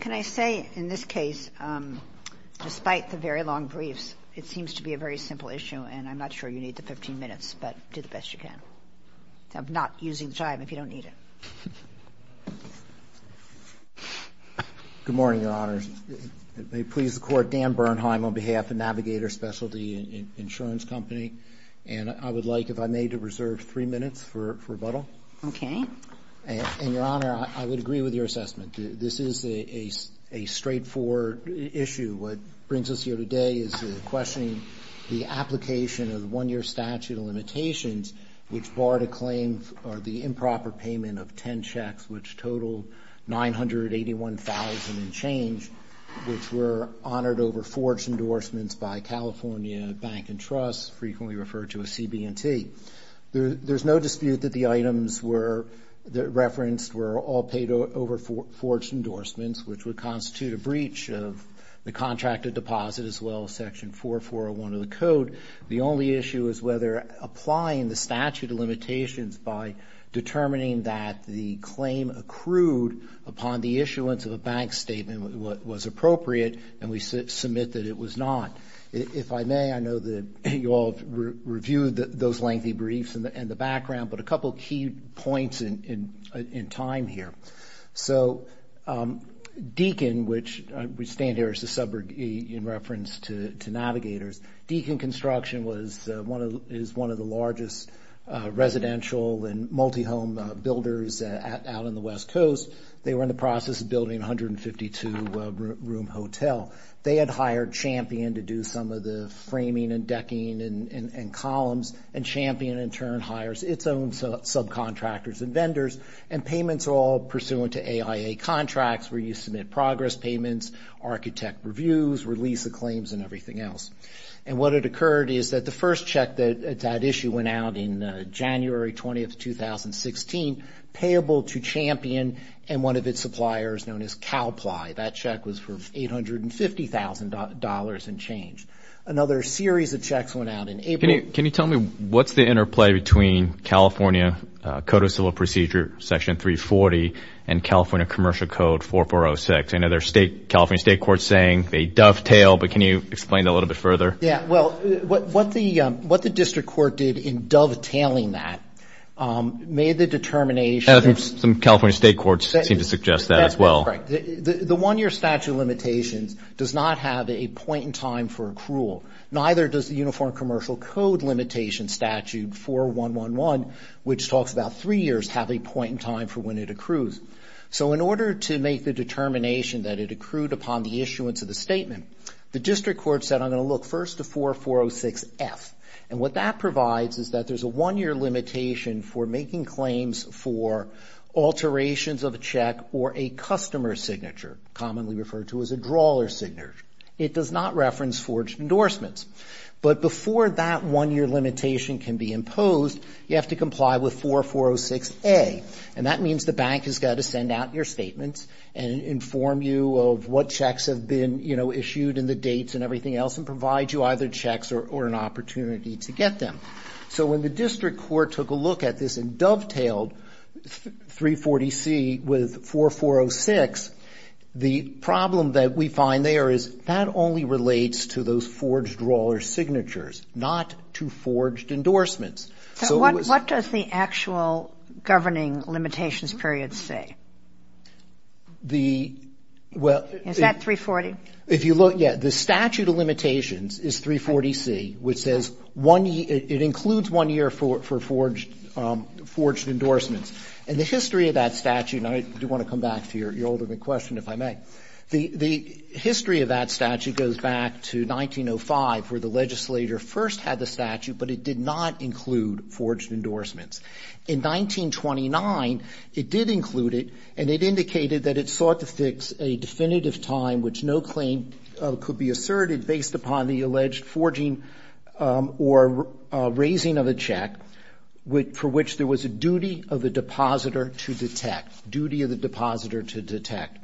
Can I say, in this case, despite the very long briefs, it seems to be a very simple issue and I'm not sure you need the 15 minutes, but do the best you can. I'm not using the time if you don't need it. Good morning, Your Honors. It may please the Court, Dan Bernheim on behalf of Navigator Specialty Insurance Company, and I would like, if I may, to reserve three minutes for rebuttal. Okay. And, Your Honor, I would agree with your assessment. This is a straightforward issue. What brings us here today is questioning the application of the one-year statute of limitations, which barred a claim for the improper payment of 10 checks, which totaled $981,000 and change, which were honored over forged endorsements by California Bank and Trust, frequently referred to as CB&T. There's no dispute that the items referenced were all paid over forged endorsements, which would constitute a breach of the contracted deposit, as well as Section 4401 of the Code. The only issue is whether applying the statute of limitations by determining that the claim accrued upon the issuance of the bond was valid. If I may, I know that you all reviewed those lengthy briefs and the background, but a couple of key points in time here. So Deakin, which we stand here as a suburb in reference to Navigators, Deakin Construction is one of the largest residential and multi-home builders out on the West Coast. They were in the process of building a 152-room hotel. They had hired Champion to do some of the framing and decking and columns, and Champion in turn hires its own subcontractors and vendors, and payments are all pursuant to AIA contracts, where you submit progress payments, architect reviews, release of claims, and everything else. And what had occurred is that the first check that issue went out in January 20th, 2016, payable to Champion and one of its suppliers known as CalPly. That check was for $850,000 and changed. Another series of checks went out in April. Can you tell me what's the interplay between California Code of Civil Procedure, Section 340, and California Commercial Code 4406? I know there's California state courts saying they dovetail, but can you explain that a little bit further? Yeah, well, what the district court did in dovetailing that made the determination... Some California state courts seem to suggest that as well. The one-year statute of limitations does not have a point in time for accrual. Neither does the Uniform Commercial Code limitation statute 4111, which talks about three years, have a point in time for when it accrues. So in order to make the determination that it accrued upon the issuance of the statement, the district court said, I'm going to look first to 4406F. And what that provides is that there's a one-year limitation for making claims for alterations of a check or a customer signature, commonly referred to as a drawler signature. It does not reference forged endorsements. But before that one-year limitation can be imposed, you have to comply with 4406A. And that means the bank has got to send out your statements and inform you of what checks have been issued and the dates and everything else and provide you either checks or an opportunity to get them. So when the district court took a look at this and dovetailed 340C with 4406, the problem that we find there is that only relates to those forged drawler signatures, not to forged endorsements. So what does the actual governing limitations period say? Is that 340? If you look, yeah, the statute of limitations is 340C, which says one year, it includes one year for forged endorsements. And the history of that statute, and I do want to come back to your ultimate question, if I may. The history of that statute goes back to 1905, where the legislator first had the statute, but it did not include forged endorsements. In 1929, it did include it, and it indicated that it sought to fix a definitive time which no claim could be asserted based upon the alleged forging or raising of a check for which there was a duty of the depositor to detect. Duty of the depositor to detect.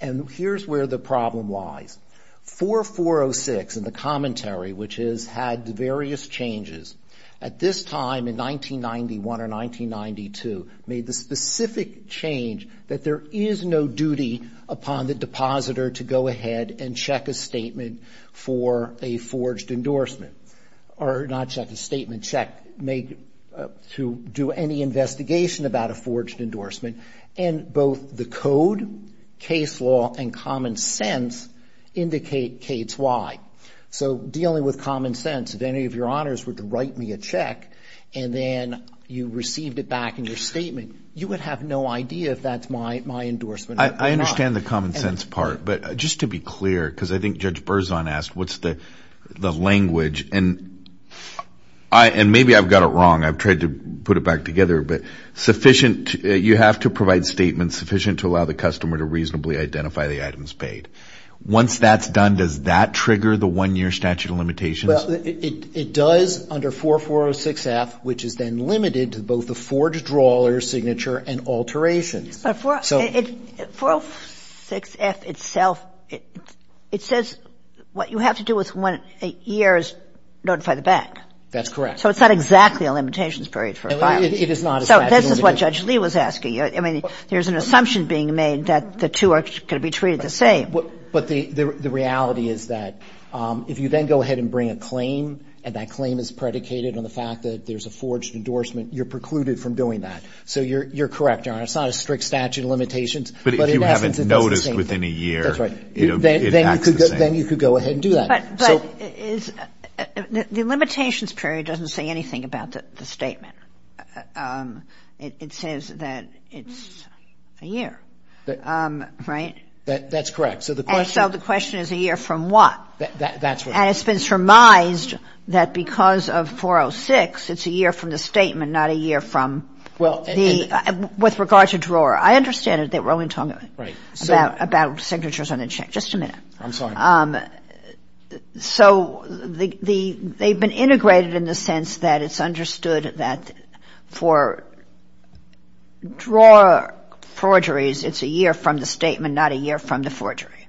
And here's where the problem lies. 4406 in the commentary, which has had various changes, at this time in 1991 or 1992, made the specific change that there is no duty upon the depositor to go ahead and check a statement for a forged endorsement. Or not check a statement, check make to do any investigation about a forged endorsement. And both the code, case law, and common sense indicate case Y. So dealing with common sense, if any of your honors were to write me a check, and then you received it back in your statement, you would have no idea if that's my endorsement or not. I understand the common sense part. But just to be clear, because I think Judge Berzon asked what's the language. And maybe I've got it wrong. I've tried to put it back together. But sufficient, you have to provide statements sufficient to allow the customer to reasonably identify the items paid. Once that's done, does that trigger the one-year statute of limitations? Well, it does under 4406F, which is then limited to both the forged drawler's signature and alterations. But 4406F itself, it says what you have to do with one year is notify the bank. That's correct. So it's not exactly a limitations period for a file. It is not a statute of limitations. So this is what Judge Lee was asking. I mean, there's an assumption being made that the two are going to be treated the same. But the reality is that if you then go ahead and bring a claim, and that claim is predicated on the fact that there's a forged endorsement, you're precluded from doing that. So you're correct, Your Honor. It's not a strict statute of limitations. But if you haven't noticed within a year. That's right. Then you could go ahead and do that. But the limitations period doesn't say anything about the statement. It says that it's a year. Right? That's correct. And so the question is a year from what? That's right. And it's been surmised that because of 406, it's a year from the statement, not a year from the, with regard to drawer. I understand that we're only talking about signatures on a check. Just a minute. I'm sorry. So they've been integrated in the sense that it's understood that for drawer forgeries, it's a year from the statement, not a year from the forgery.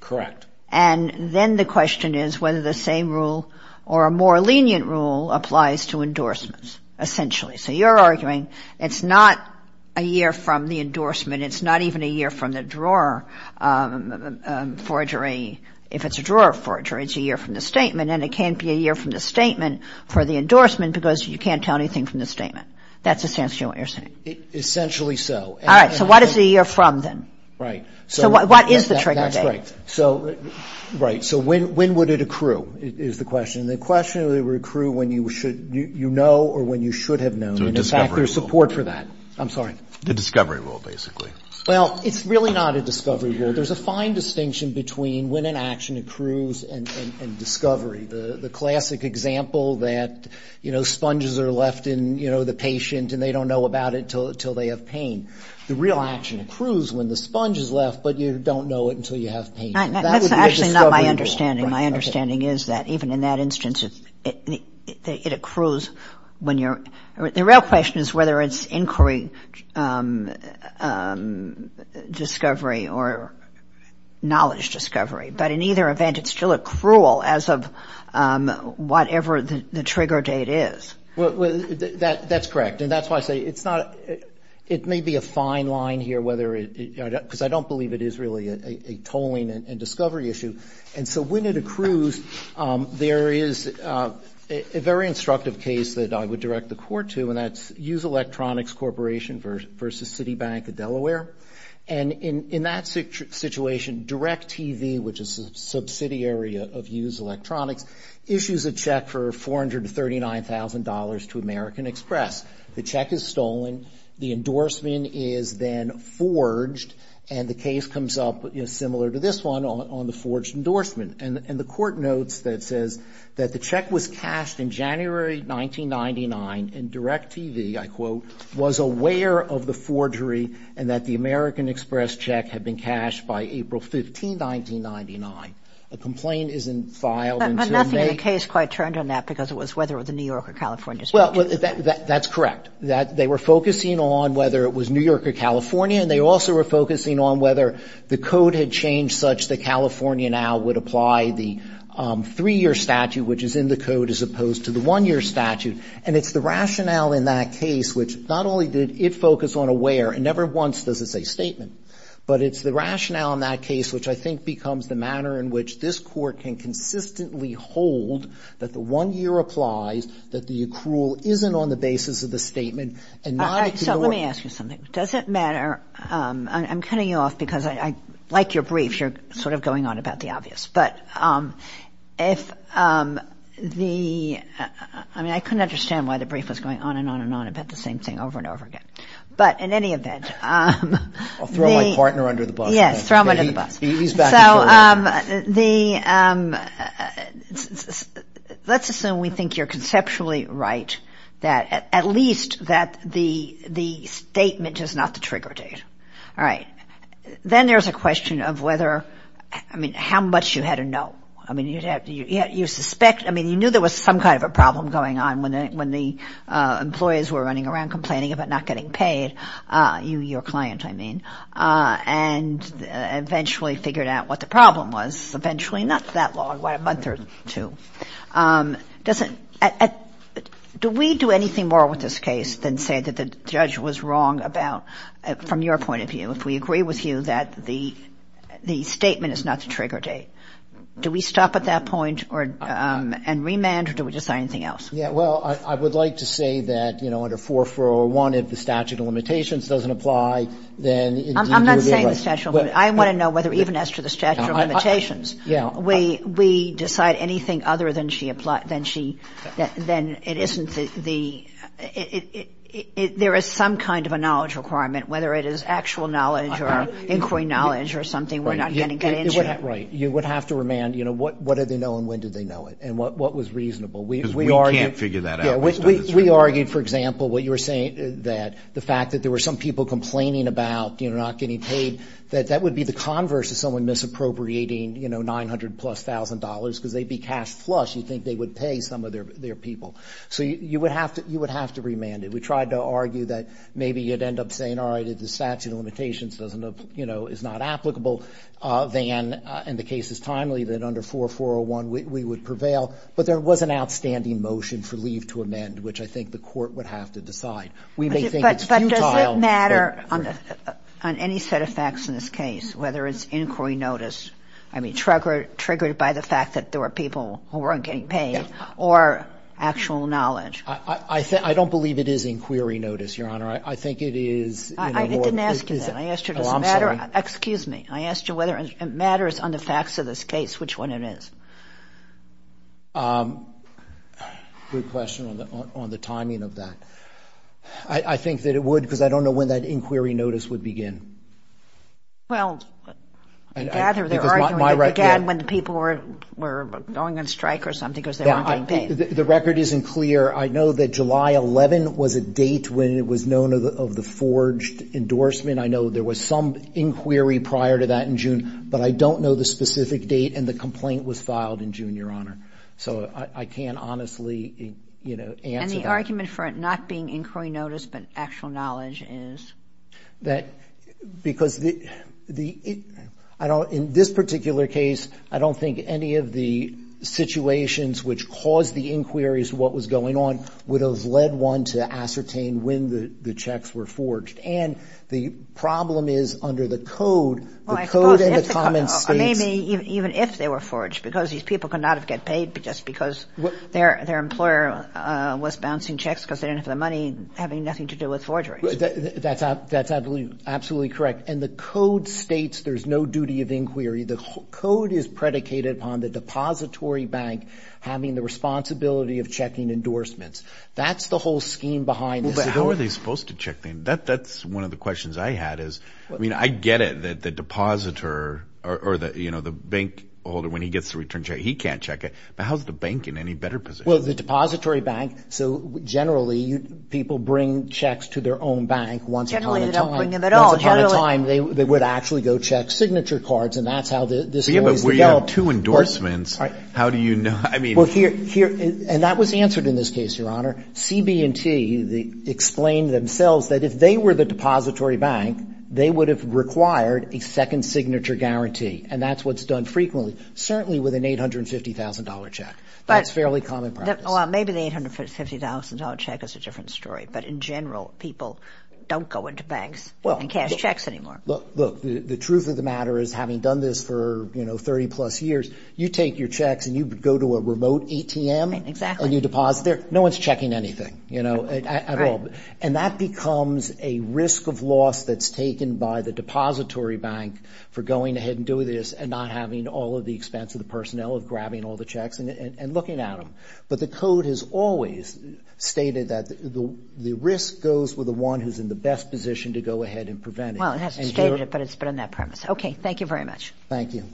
Correct. And then the question is whether the same rule or a more lenient rule applies to endorsements, essentially. So you're arguing it's not a year from the endorsement. It's not even a year from the drawer forgery. If it's a drawer forgery, it's a year from the statement. And it can't be a year from the statement for the endorsement because you can't tell anything from the statement. That's essentially what you're saying. Essentially so. All right. So what is a year from then? Right. So what is the trigger date? That's right. So, right. So when would it accrue is the question. And the question is whether it would accrue when you know or when you should have known. So a discovery rule. And, in fact, there's support for that. I'm sorry. The discovery rule, basically. Well, it's really not a discovery rule. There's a fine distinction between when an action accrues and discovery, the classic example that, you know, sponges are left in, you know, the patient and they don't know about it until they have pain. The real action accrues when the sponge is left, but you don't know it until you have pain. That would be a discovery rule. That's actually not my understanding. My understanding is that even in that instance, it accrues when you're – the real question is whether it's inquiry discovery or knowledge discovery. But in either event, it's still accrual as of whatever the trigger date is. Well, that's correct. And that's why I say it's not – it may be a fine line here whether it – because I don't believe it is really a tolling and discovery issue. And so when it accrues, there is a very instructive case that I would direct the court to, and that's U.S. Electronics Corporation versus Citibank of Delaware. And in that situation, DirecTV, which is a subsidiary of U.S. Electronics, issues a check for $439,000 to American Express. The check is stolen. The endorsement is then forged. And the case comes up, similar to this one, on the forged endorsement. And the court notes that it says that the check was cashed in January 1999, and DirecTV, I quote, was aware of the forgery and that the American Express check had been cashed by April 15, 1999. A complaint isn't filed until May. But nothing in the case quite turned on that because it was whether it was a New York or California statute. Well, that's correct. They were focusing on whether it was New York or California, and they also were focusing on whether the code had changed such that California now would apply the three-year statute, which is in the code, as opposed to the one-year statute. And it's the rationale in that case, which not only did it focus on aware, and never once does it say statement, but it's the rationale in that case, which I think becomes the manner in which this court can consistently hold that the one-year applies, that the accrual isn't on the basis of the statement. So let me ask you something. Does it matter? I'm cutting you off because I like your brief. You're sort of going on about the obvious. I mean, I couldn't understand why the brief was going on and on and on about the same thing over and over again. But in any event. I'll throw my partner under the bus. Yes, throw him under the bus. He's back. Well, let's assume we think you're conceptually right, that at least that the statement is not the trigger date. All right. Then there's a question of whether, I mean, how much you had to know. I mean, you knew there was some kind of a problem going on when the employees were running around and eventually figured out what the problem was. Eventually, not that long, a month or two. Do we do anything more with this case than say that the judge was wrong about, from your point of view, if we agree with you that the statement is not the trigger date? Do we stop at that point and remand, or do we decide anything else? Yeah, well, I would like to say that, you know, under 4401, if the statute of limitations doesn't apply, then indeed you're very right. I'm not saying the statute of limitations. I want to know whether even as to the statute of limitations. Yeah. We decide anything other than it isn't the ‑‑ there is some kind of a knowledge requirement, whether it is actual knowledge or inquiry knowledge or something. We're not going to get into it. Right. You would have to remand, you know, what did they know and when did they know it and what was reasonable. Because we can't figure that out. We argued, for example, what you were saying, that the fact that there were some people complaining about, you know, not getting paid, that that would be the converse of someone misappropriating, you know, $900,000 plus because they'd be cash flush. You'd think they would pay some of their people. So you would have to remand it. We tried to argue that maybe you'd end up saying, all right, if the statute of limitations doesn't, you know, is not applicable, then, and the case is timely, that under 4401 we would prevail. But there was an outstanding motion for leave to amend, which I think the court would have to decide. We may think it's futile. But does it matter on any set of facts in this case, whether it's inquiry notice, I mean, triggered by the fact that there were people who weren't getting paid, or actual knowledge? I don't believe it is inquiry notice, Your Honor. I think it is more ‑‑ I didn't ask you that. I asked you does it matter. Oh, I'm sorry. Good question on the timing of that. I think that it would because I don't know when that inquiry notice would begin. Well, I gather they're arguing it began when the people were going on strike or something because they weren't getting paid. The record isn't clear. I know that July 11 was a date when it was known of the forged endorsement. But I don't know the specific date and the complaint was filed in June, Your Honor. So I can't honestly, you know, answer that. And the argument for it not being inquiry notice but actual knowledge is? Because the ‑‑ in this particular case, I don't think any of the situations which caused the inquiries, what was going on, would have led one to ascertain when the checks were forged. And the problem is under the code, the code and the common states. I mean, even if they were forged because these people could not have got paid just because their employer was bouncing checks because they didn't have the money having nothing to do with forgery. That's absolutely correct. And the code states there's no duty of inquiry. The code is predicated upon the depository bank having the responsibility of checking endorsements. That's the whole scheme behind this. How are they supposed to check them? That's one of the questions I had is, I mean, I get it that the depositor or, you know, the bank holder, when he gets the return check, he can't check it. But how's the bank in any better position? Well, the depository bank, so generally people bring checks to their own bank once upon a time. Generally they don't bring them at all. Once upon a time, they would actually go check signature cards and that's how this always developed. But you have two endorsements. How do you know? I mean. Well, here ‑‑ and that was answered in this case, Your Honor. CB&T explained themselves that if they were the depository bank, they would have required a second signature guarantee. And that's what's done frequently, certainly with an $850,000 check. That's fairly common practice. Well, maybe the $850,000 check is a different story. But in general, people don't go into banks and cash checks anymore. Look, the truth of the matter is having done this for, you know, 30 plus years, you take your checks and you go to a remote ATM. Exactly. And you deposit there. No one's checking anything, you know, at all. Right. And that becomes a risk of loss that's taken by the depository bank for going ahead and doing this and not having all of the expense of the personnel of grabbing all the checks and looking at them. But the code has always stated that the risk goes with the one who's in the best position to go ahead and prevent it. Well, it hasn't stated it, but it's been on that premise. Okay. Thank you very much. Thank you.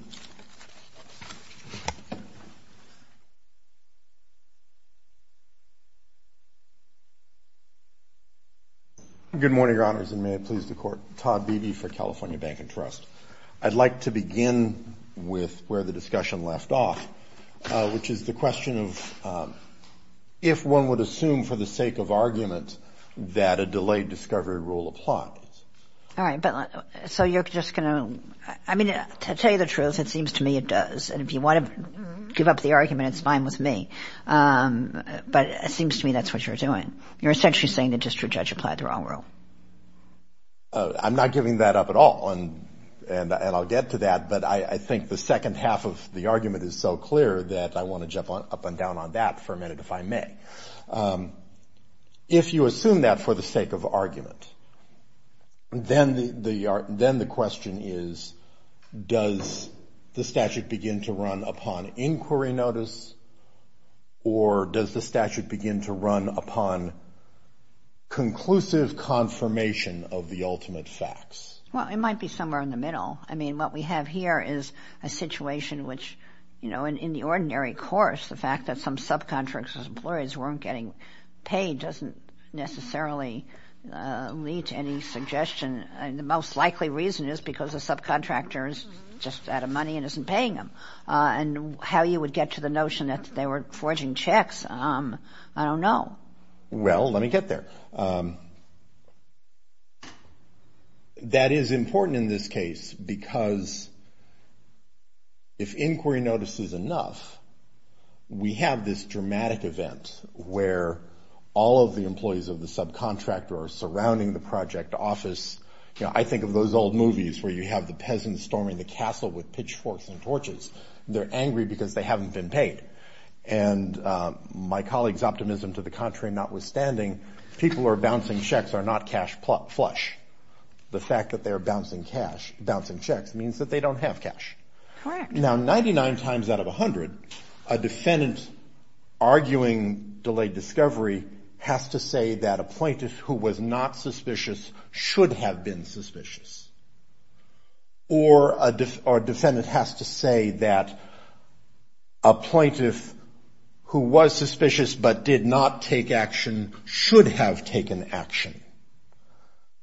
Good morning, Your Honors, and may it please the Court. Todd Beebe for California Bank and Trust. I'd like to begin with where the discussion left off, which is the question of if one would assume for the sake of argument that a delayed discovery rule applies. All right. So you're just going to – I mean, to tell you the truth, it seems to me it does. And if you want to give up the argument, it's fine with me. But it seems to me that's what you're doing. You're essentially saying that just your judge applied the wrong rule. I'm not giving that up at all, and I'll get to that. But I think the second half of the argument is so clear that I want to jump up and down on that for a minute, if I may. If you assume that for the sake of argument, then the question is, does the statute begin to run upon inquiry notice, or does the statute begin to run upon conclusive confirmation of the ultimate facts? Well, it might be somewhere in the middle. I mean, what we have here is a situation which, you know, in the ordinary course, the fact that some subcontractors' employees weren't getting paid doesn't necessarily lead to any suggestion. And the most likely reason is because the subcontractor is just out of money and isn't paying them. And how you would get to the notion that they were forging checks, I don't know. Well, let me get there. That is important in this case because if inquiry notice is enough, we have this dramatic event where all of the employees of the subcontractor are surrounding the project office. You know, I think of those old movies where you have the peasants storming the castle with pitchforks and torches. They're angry because they haven't been paid. And my colleague's optimism to the contrary notwithstanding, people who are bouncing checks are not cash flush. The fact that they're bouncing checks means that they don't have cash. Correct. Now, 99 times out of 100, a defendant arguing delayed discovery has to say that a plaintiff who was not suspicious should have been suspicious. Or a defendant has to say that a plaintiff who was suspicious but did not take action should have taken action.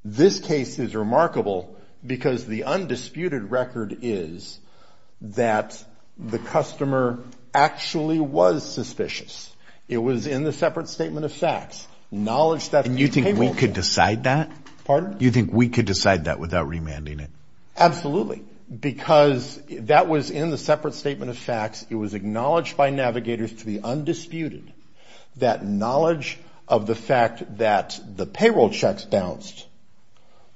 This case is remarkable because the undisputed record is that the customer actually was suspicious. It was in the separate statement of facts. And you think we could decide that? Pardon? You think we could decide that without remanding it? Absolutely. Because that was in the separate statement of facts. It was acknowledged by navigators to the undisputed that knowledge of the fact that the payroll checks bounced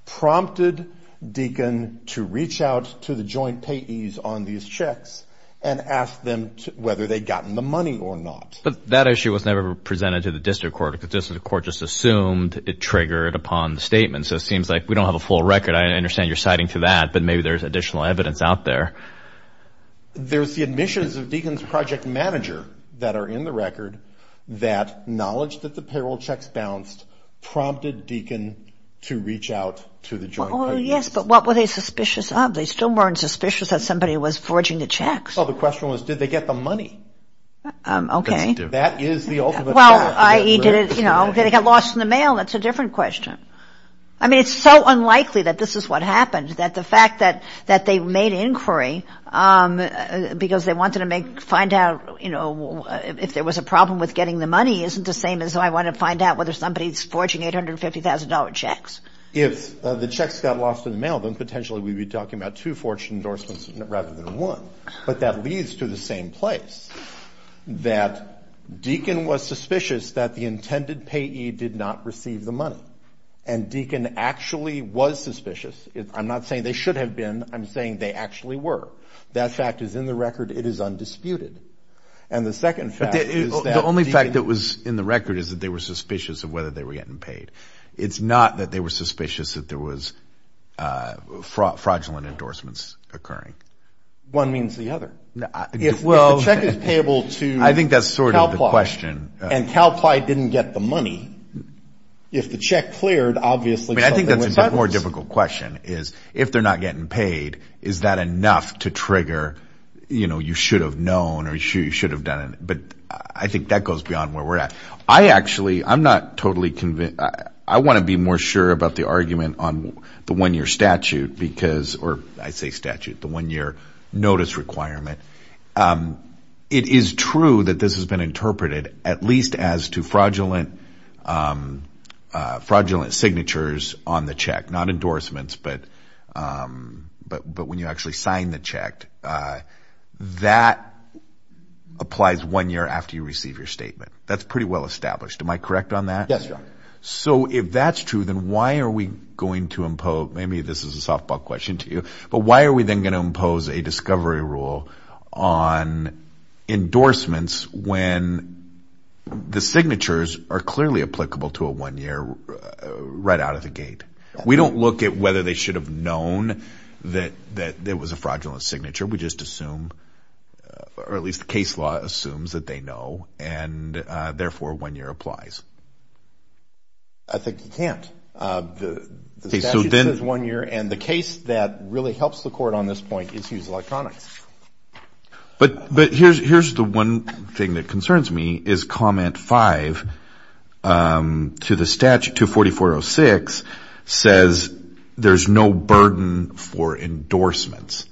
prompted Deakin to reach out to the joint payees on these checks and ask them whether they'd gotten the money or not. But that issue was never presented to the district court because the district court just assumed it triggered upon the statement. So it seems like we don't have a full record. I understand you're citing to that, but maybe there's additional evidence out there. There's the admissions of Deakin's project manager that are in the record that knowledge that the payroll checks bounced prompted Deakin to reach out to the joint payees. Yes, but what were they suspicious of? They still weren't suspicious that somebody was forging the checks. Well, the question was, did they get the money? Okay. That is the ultimate question. Did it get lost in the mail? That's a different question. I mean, it's so unlikely that this is what happened, that the fact that they made inquiry because they wanted to find out if there was a problem with getting the money isn't the same as I want to find out whether somebody's forging $850,000 checks. If the checks got lost in the mail, then potentially we'd be talking about two forged endorsements rather than one. But that leads to the same place, that Deakin was suspicious that the intended payee did not receive the money, and Deakin actually was suspicious. I'm not saying they should have been. I'm saying they actually were. That fact is in the record. It is undisputed. And the second fact is that Deakin – The only fact that was in the record is that they were suspicious of whether they were getting paid. It's not that they were suspicious that there was fraudulent endorsements occurring. One means the other. If the check is payable to CalPly – I think that's sort of the question. And CalPly didn't get the money, if the check cleared, obviously – I think that's a more difficult question, is if they're not getting paid, is that enough to trigger, you know, you should have known or you should have done it. But I think that goes beyond where we're at. I actually – I'm not totally – I want to be more sure about the argument on the one-year statute because – or I say statute, the one-year notice requirement. It is true that this has been interpreted at least as to fraudulent signatures on the check, not endorsements. But when you actually sign the check, that applies one year after you receive your statement. That's pretty well established. Am I correct on that? Yes, John. So if that's true, then why are we going to impose – maybe this is a softball question to you – but why are we then going to impose a discovery rule on endorsements when the signatures are clearly applicable to a one-year right out of the gate? We don't look at whether they should have known that there was a fraudulent signature. We just assume – or at least the case law assumes that they know, and therefore one year applies. I think you can't. The statute says one year, and the case that really helps the court on this point is Hughes Electronics. But here's the one thing that concerns me, is Comment 5 to the statute, 24406, says there's no burden for endorsements.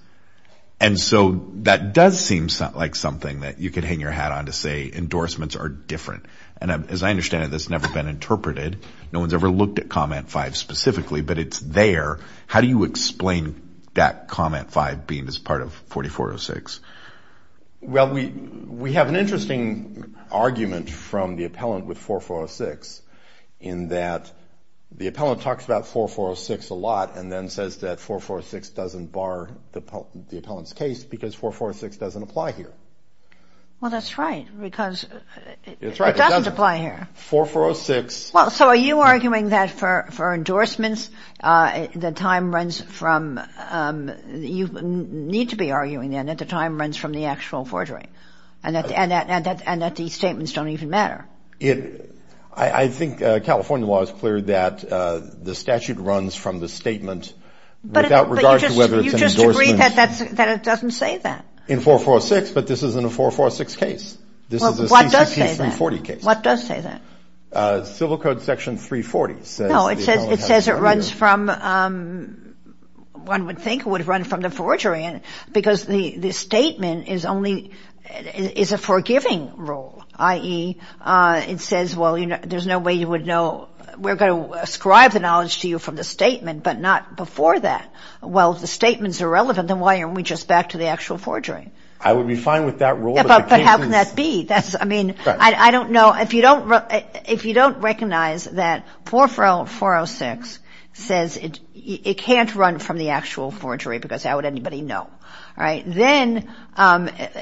And so that does seem like something that you could hang your hat on to say endorsements are different. And as I understand it, that's never been interpreted. No one's ever looked at Comment 5 specifically, but it's there. How do you explain that Comment 5 being as part of 4406? Well, we have an interesting argument from the appellant with 4406 in that the appellant talks about 4406 a lot and then says that 4406 doesn't bar the appellant's case because 4406 doesn't apply here. Well, that's right, because it doesn't apply here. 4406. So are you arguing that for endorsements, the time runs from – you need to be arguing then that the time runs from the actual forgery and that these statements don't even matter? I think California law is clear that the statute runs from the statement without regard to whether it's an endorsement. But you just agree that it doesn't say that. In 4406, but this isn't a 4406 case. This is a CCC 340 case. Well, what does say that? What does say that? Civil Code Section 340 says the appellant has 20 years. No, it says it runs from – one would think it would run from the forgery because the statement is a forgiving rule, i.e. it says, well, there's no way you would know – we're going to ascribe the knowledge to you from the statement, but not before that. Well, if the statement's irrelevant, then why aren't we just back to the actual forgery? I would be fine with that rule, but the case is – But how can that be? I mean, I don't know – if you don't recognize that 4406 says it can't run from the actual forgery because how would anybody know, right? Then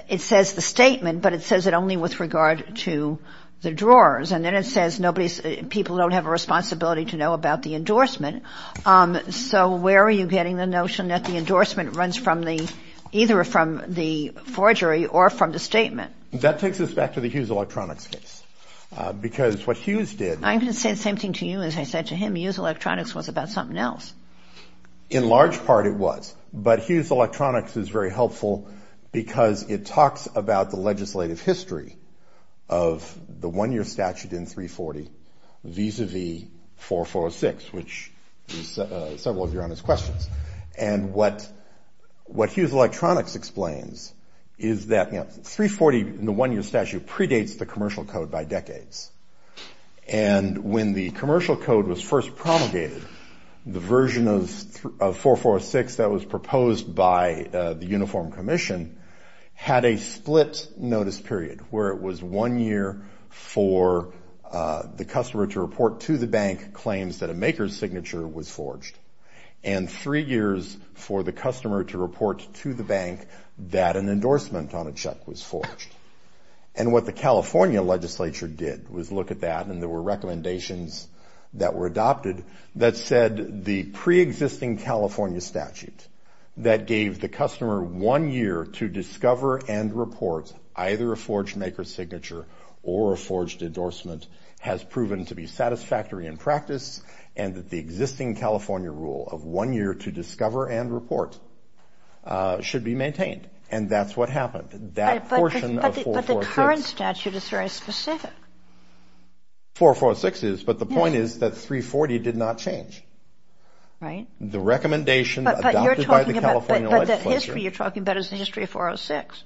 it says the statement, but it says it only with regard to the drawers. And then it says nobody – people don't have a responsibility to know about the endorsement. So where are you getting the notion that the endorsement runs from the – either from the forgery or from the statement? That takes us back to the Hughes Electronics case because what Hughes did – I'm going to say the same thing to you as I said to him. Hughes Electronics was about something else. In large part, it was, but Hughes Electronics is very helpful because it talks about the legislative history of the one-year statute in 340 vis-à-vis 4406, which is several of your honest questions. And what Hughes Electronics explains is that 340, the one-year statute, predates the commercial code by decades. And when the commercial code was first promulgated, the version of 446 that was proposed by the Uniform Commission had a split notice period where it was one year for the customer to report to the bank claims that a maker's signature was forged and three years for the customer to report to the bank that an endorsement on a check was forged. And what the California legislature did was look at that, and there were recommendations that were adopted that said the preexisting California statute that gave the customer one year to discover and report either a forged maker's signature or a forged endorsement has proven to be satisfactory in practice and that the existing California rule of one year to discover and report should be maintained. And that's what happened. That portion of 446 – But the current statute is very specific. 446 is, but the point is that 340 did not change. Right. The recommendation adopted by the California legislature – But the history you're talking about is the history of 406.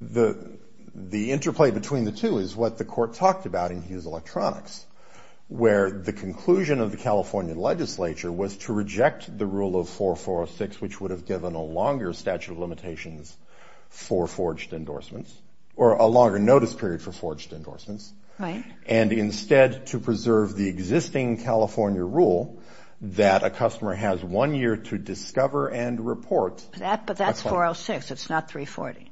The interplay between the two is what the court talked about in Hughes Electronics, where the conclusion of the California legislature was to reject the rule of 446, which would have given a longer statute of limitations for forged endorsements or a longer notice period for forged endorsements. Right. And instead to preserve the existing California rule that a customer has one year to discover and report – But that's 406. It's not 340.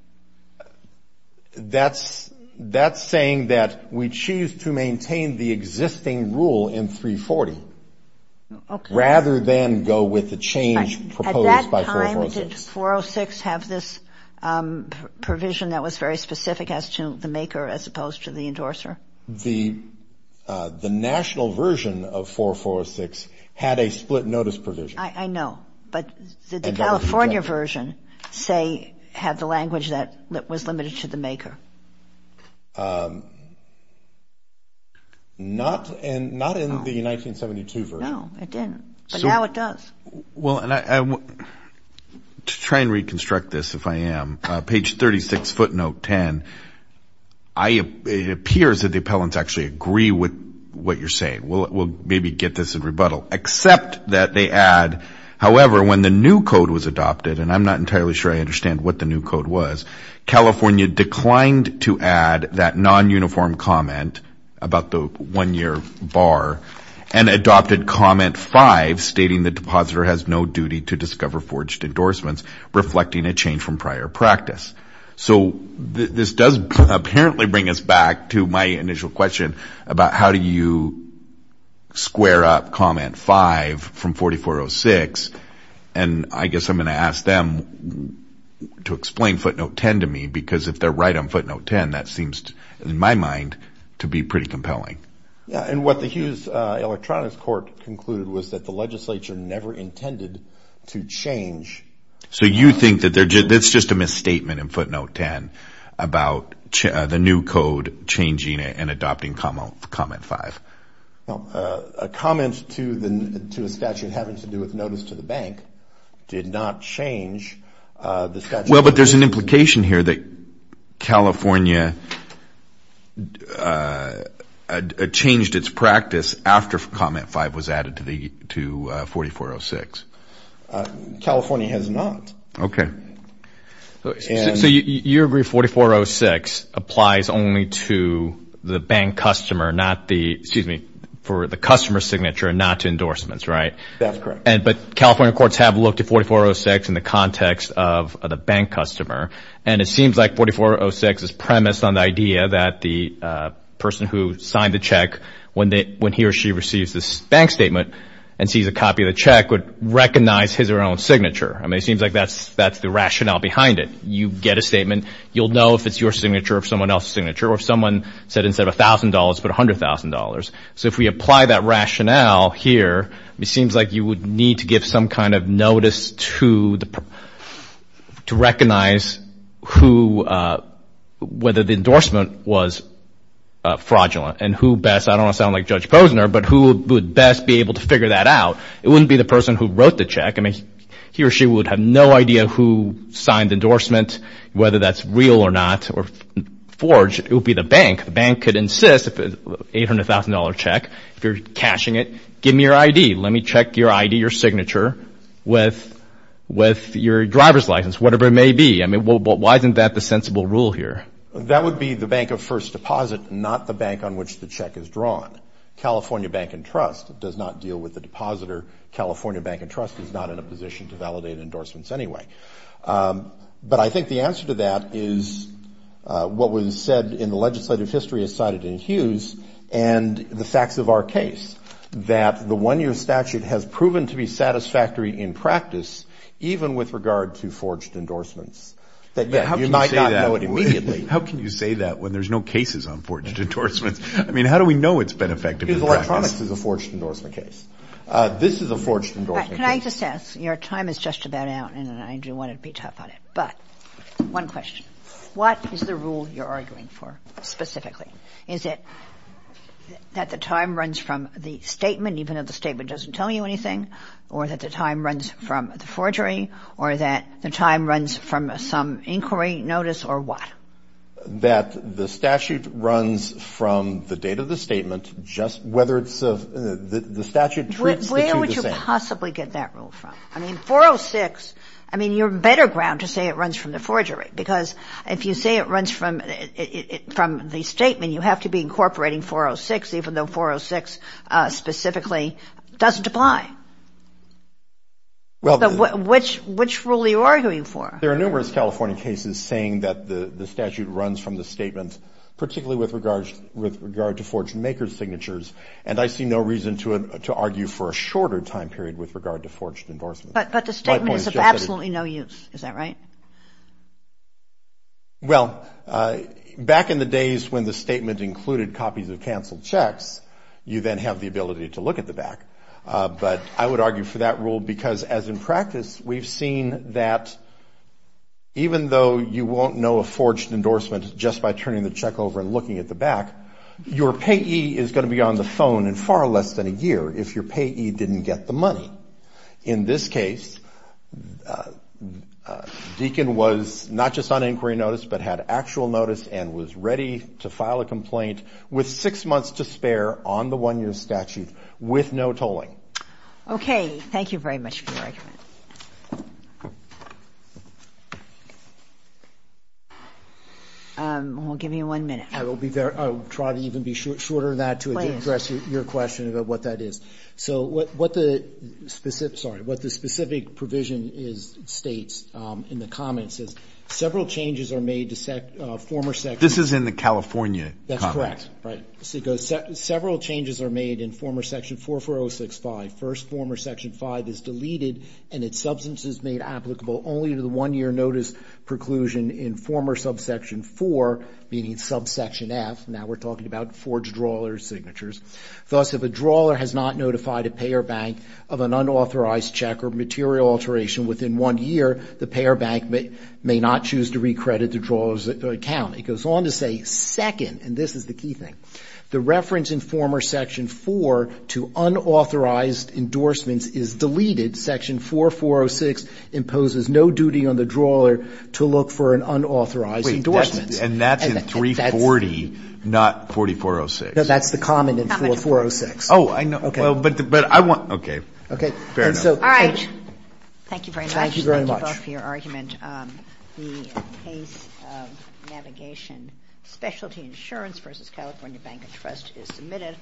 That's saying that we choose to maintain the existing rule in 340 rather than go with the change proposed by 446. At that time, did 406 have this provision that was very specific as to the maker as opposed to the endorser? The national version of 446 had a split notice provision. I know. But did the California version, say, have the language that was limited to the maker? Not in the 1972 version. No, it didn't. But now it does. Well, to try and reconstruct this, if I am, page 36, footnote 10, it appears that the appellants actually agree with what you're saying. We'll maybe get this in rebuttal. Except that they add, however, when the new code was adopted, and I'm not entirely sure I understand what the new code was, California declined to add that non-uniform comment about the one-year bar and adopted comment 5, stating the depositor has no duty to discover forged endorsements, reflecting a change from prior practice. So this does apparently bring us back to my initial question about how do you square up comment 5 from 4406, and I guess I'm going to ask them to explain footnote 10 to me, because if they're right on footnote 10, that seems, in my mind, to be pretty compelling. Yeah, and what the Hughes Electronics Court concluded was that the legislature never intended to change. So you think that that's just a misstatement in footnote 10 about the new code changing and adopting comment 5? No, a comment to a statute having to do with notice to the bank did not change the statute. Well, but there's an implication here that California changed its practice after comment 5 was added to 4406. California has not. Okay. So you agree 4406 applies only to the bank customer, not the, excuse me, for the customer signature and not to endorsements, right? That's correct. But California courts have looked at 4406 in the context of the bank customer, and it seems like 4406 is premised on the idea that the person who signed the check, when he or she receives this bank statement and sees a copy of the check, would recognize his or her own signature. I mean, it seems like that's the rationale behind it. You get a statement. You'll know if it's your signature or someone else's signature or if someone said instead of $1,000, put $100,000. So if we apply that rationale here, it seems like you would need to give some kind of notice to recognize whether the endorsement was fraudulent and who best, I don't want to sound like Judge Posner, but who would best be able to figure that out. It wouldn't be the person who wrote the check. I mean, he or she would have no idea who signed the endorsement, whether that's real or not, or forged. It would be the bank. The bank could insist if it's an $800,000 check, if you're cashing it, give me your ID. Let me check your ID, your signature with your driver's license, whatever it may be. I mean, why isn't that the sensible rule here? That would be the bank of first deposit, not the bank on which the check is drawn. California Bank and Trust does not deal with the depositor. California Bank and Trust is not in a position to validate endorsements anyway. But I think the answer to that is what was said in the legislative history as cited in Hughes and the facts of our case, that the one-year statute has proven to be satisfactory in practice, even with regard to forged endorsements, that yet you might not know it immediately. How can you say that when there's no cases on forged endorsements? I mean, how do we know it's been effective in practice? Because electronics is a forged endorsement case. This is a forged endorsement case. Can I just ask? Your time is just about out, and I do want to be tough on it. But one question. What is the rule you're arguing for specifically? Is it that the time runs from the statement, even if the statement doesn't tell you anything, or that the time runs from the forgery, or that the time runs from some inquiry notice, or what? That the statute runs from the date of the statement, just whether it's the statute treats the two the same. Where do you possibly get that rule from? I mean, 406, I mean, you're better ground to say it runs from the forgery, because if you say it runs from the statement, you have to be incorporating 406, even though 406 specifically doesn't apply. So which rule are you arguing for? There are numerous California cases saying that the statute runs from the statement, particularly with regard to forged maker signatures, and I see no reason to argue for a shorter time period with regard to forged endorsements. But the statement is of absolutely no use. Is that right? Well, back in the days when the statement included copies of canceled checks, you then have the ability to look at the back. But I would argue for that rule, because as in practice, we've seen that even though you won't know a forged endorsement just by turning the check over and looking at the back, your payee is going to be on the phone in far less than a year if your payee didn't get the money. In this case, Deakin was not just on inquiry notice but had actual notice and was ready to file a complaint with six months to spare on the one-year statute with no tolling. Okay. Thank you very much for your argument. Thank you. We'll give you one minute. I will be there. I will try to even be shorter than that to address your question about what that is. So what the specific provision states in the comments is several changes are made to former sections. This is in the California comment. That's correct. Right. Several changes are made in former section 44065. First, former section 5 is deleted and its substance is made applicable only to the one-year notice preclusion in former subsection 4, meaning subsection F. Now we're talking about forged drawer signatures. Thus, if a drawer has not notified a payor bank of an unauthorized check or material alteration within one year, the payor bank may not choose to recredit the drawer's account. It goes on to say, second, and this is the key thing, the reference in former section 4 to unauthorized endorsements is deleted. Section 4406 imposes no duty on the drawer to look for an unauthorized endorsement. And that's in 340, not 4406. No, that's the comment in 4406. Oh, I know. Okay. But I want, okay. Okay. Fair enough. All right. Thank you very much. Thank you very much. Thank you very much for your argument. The case of Navigation Specialty Insurance v. California Bank and Trust is submitted.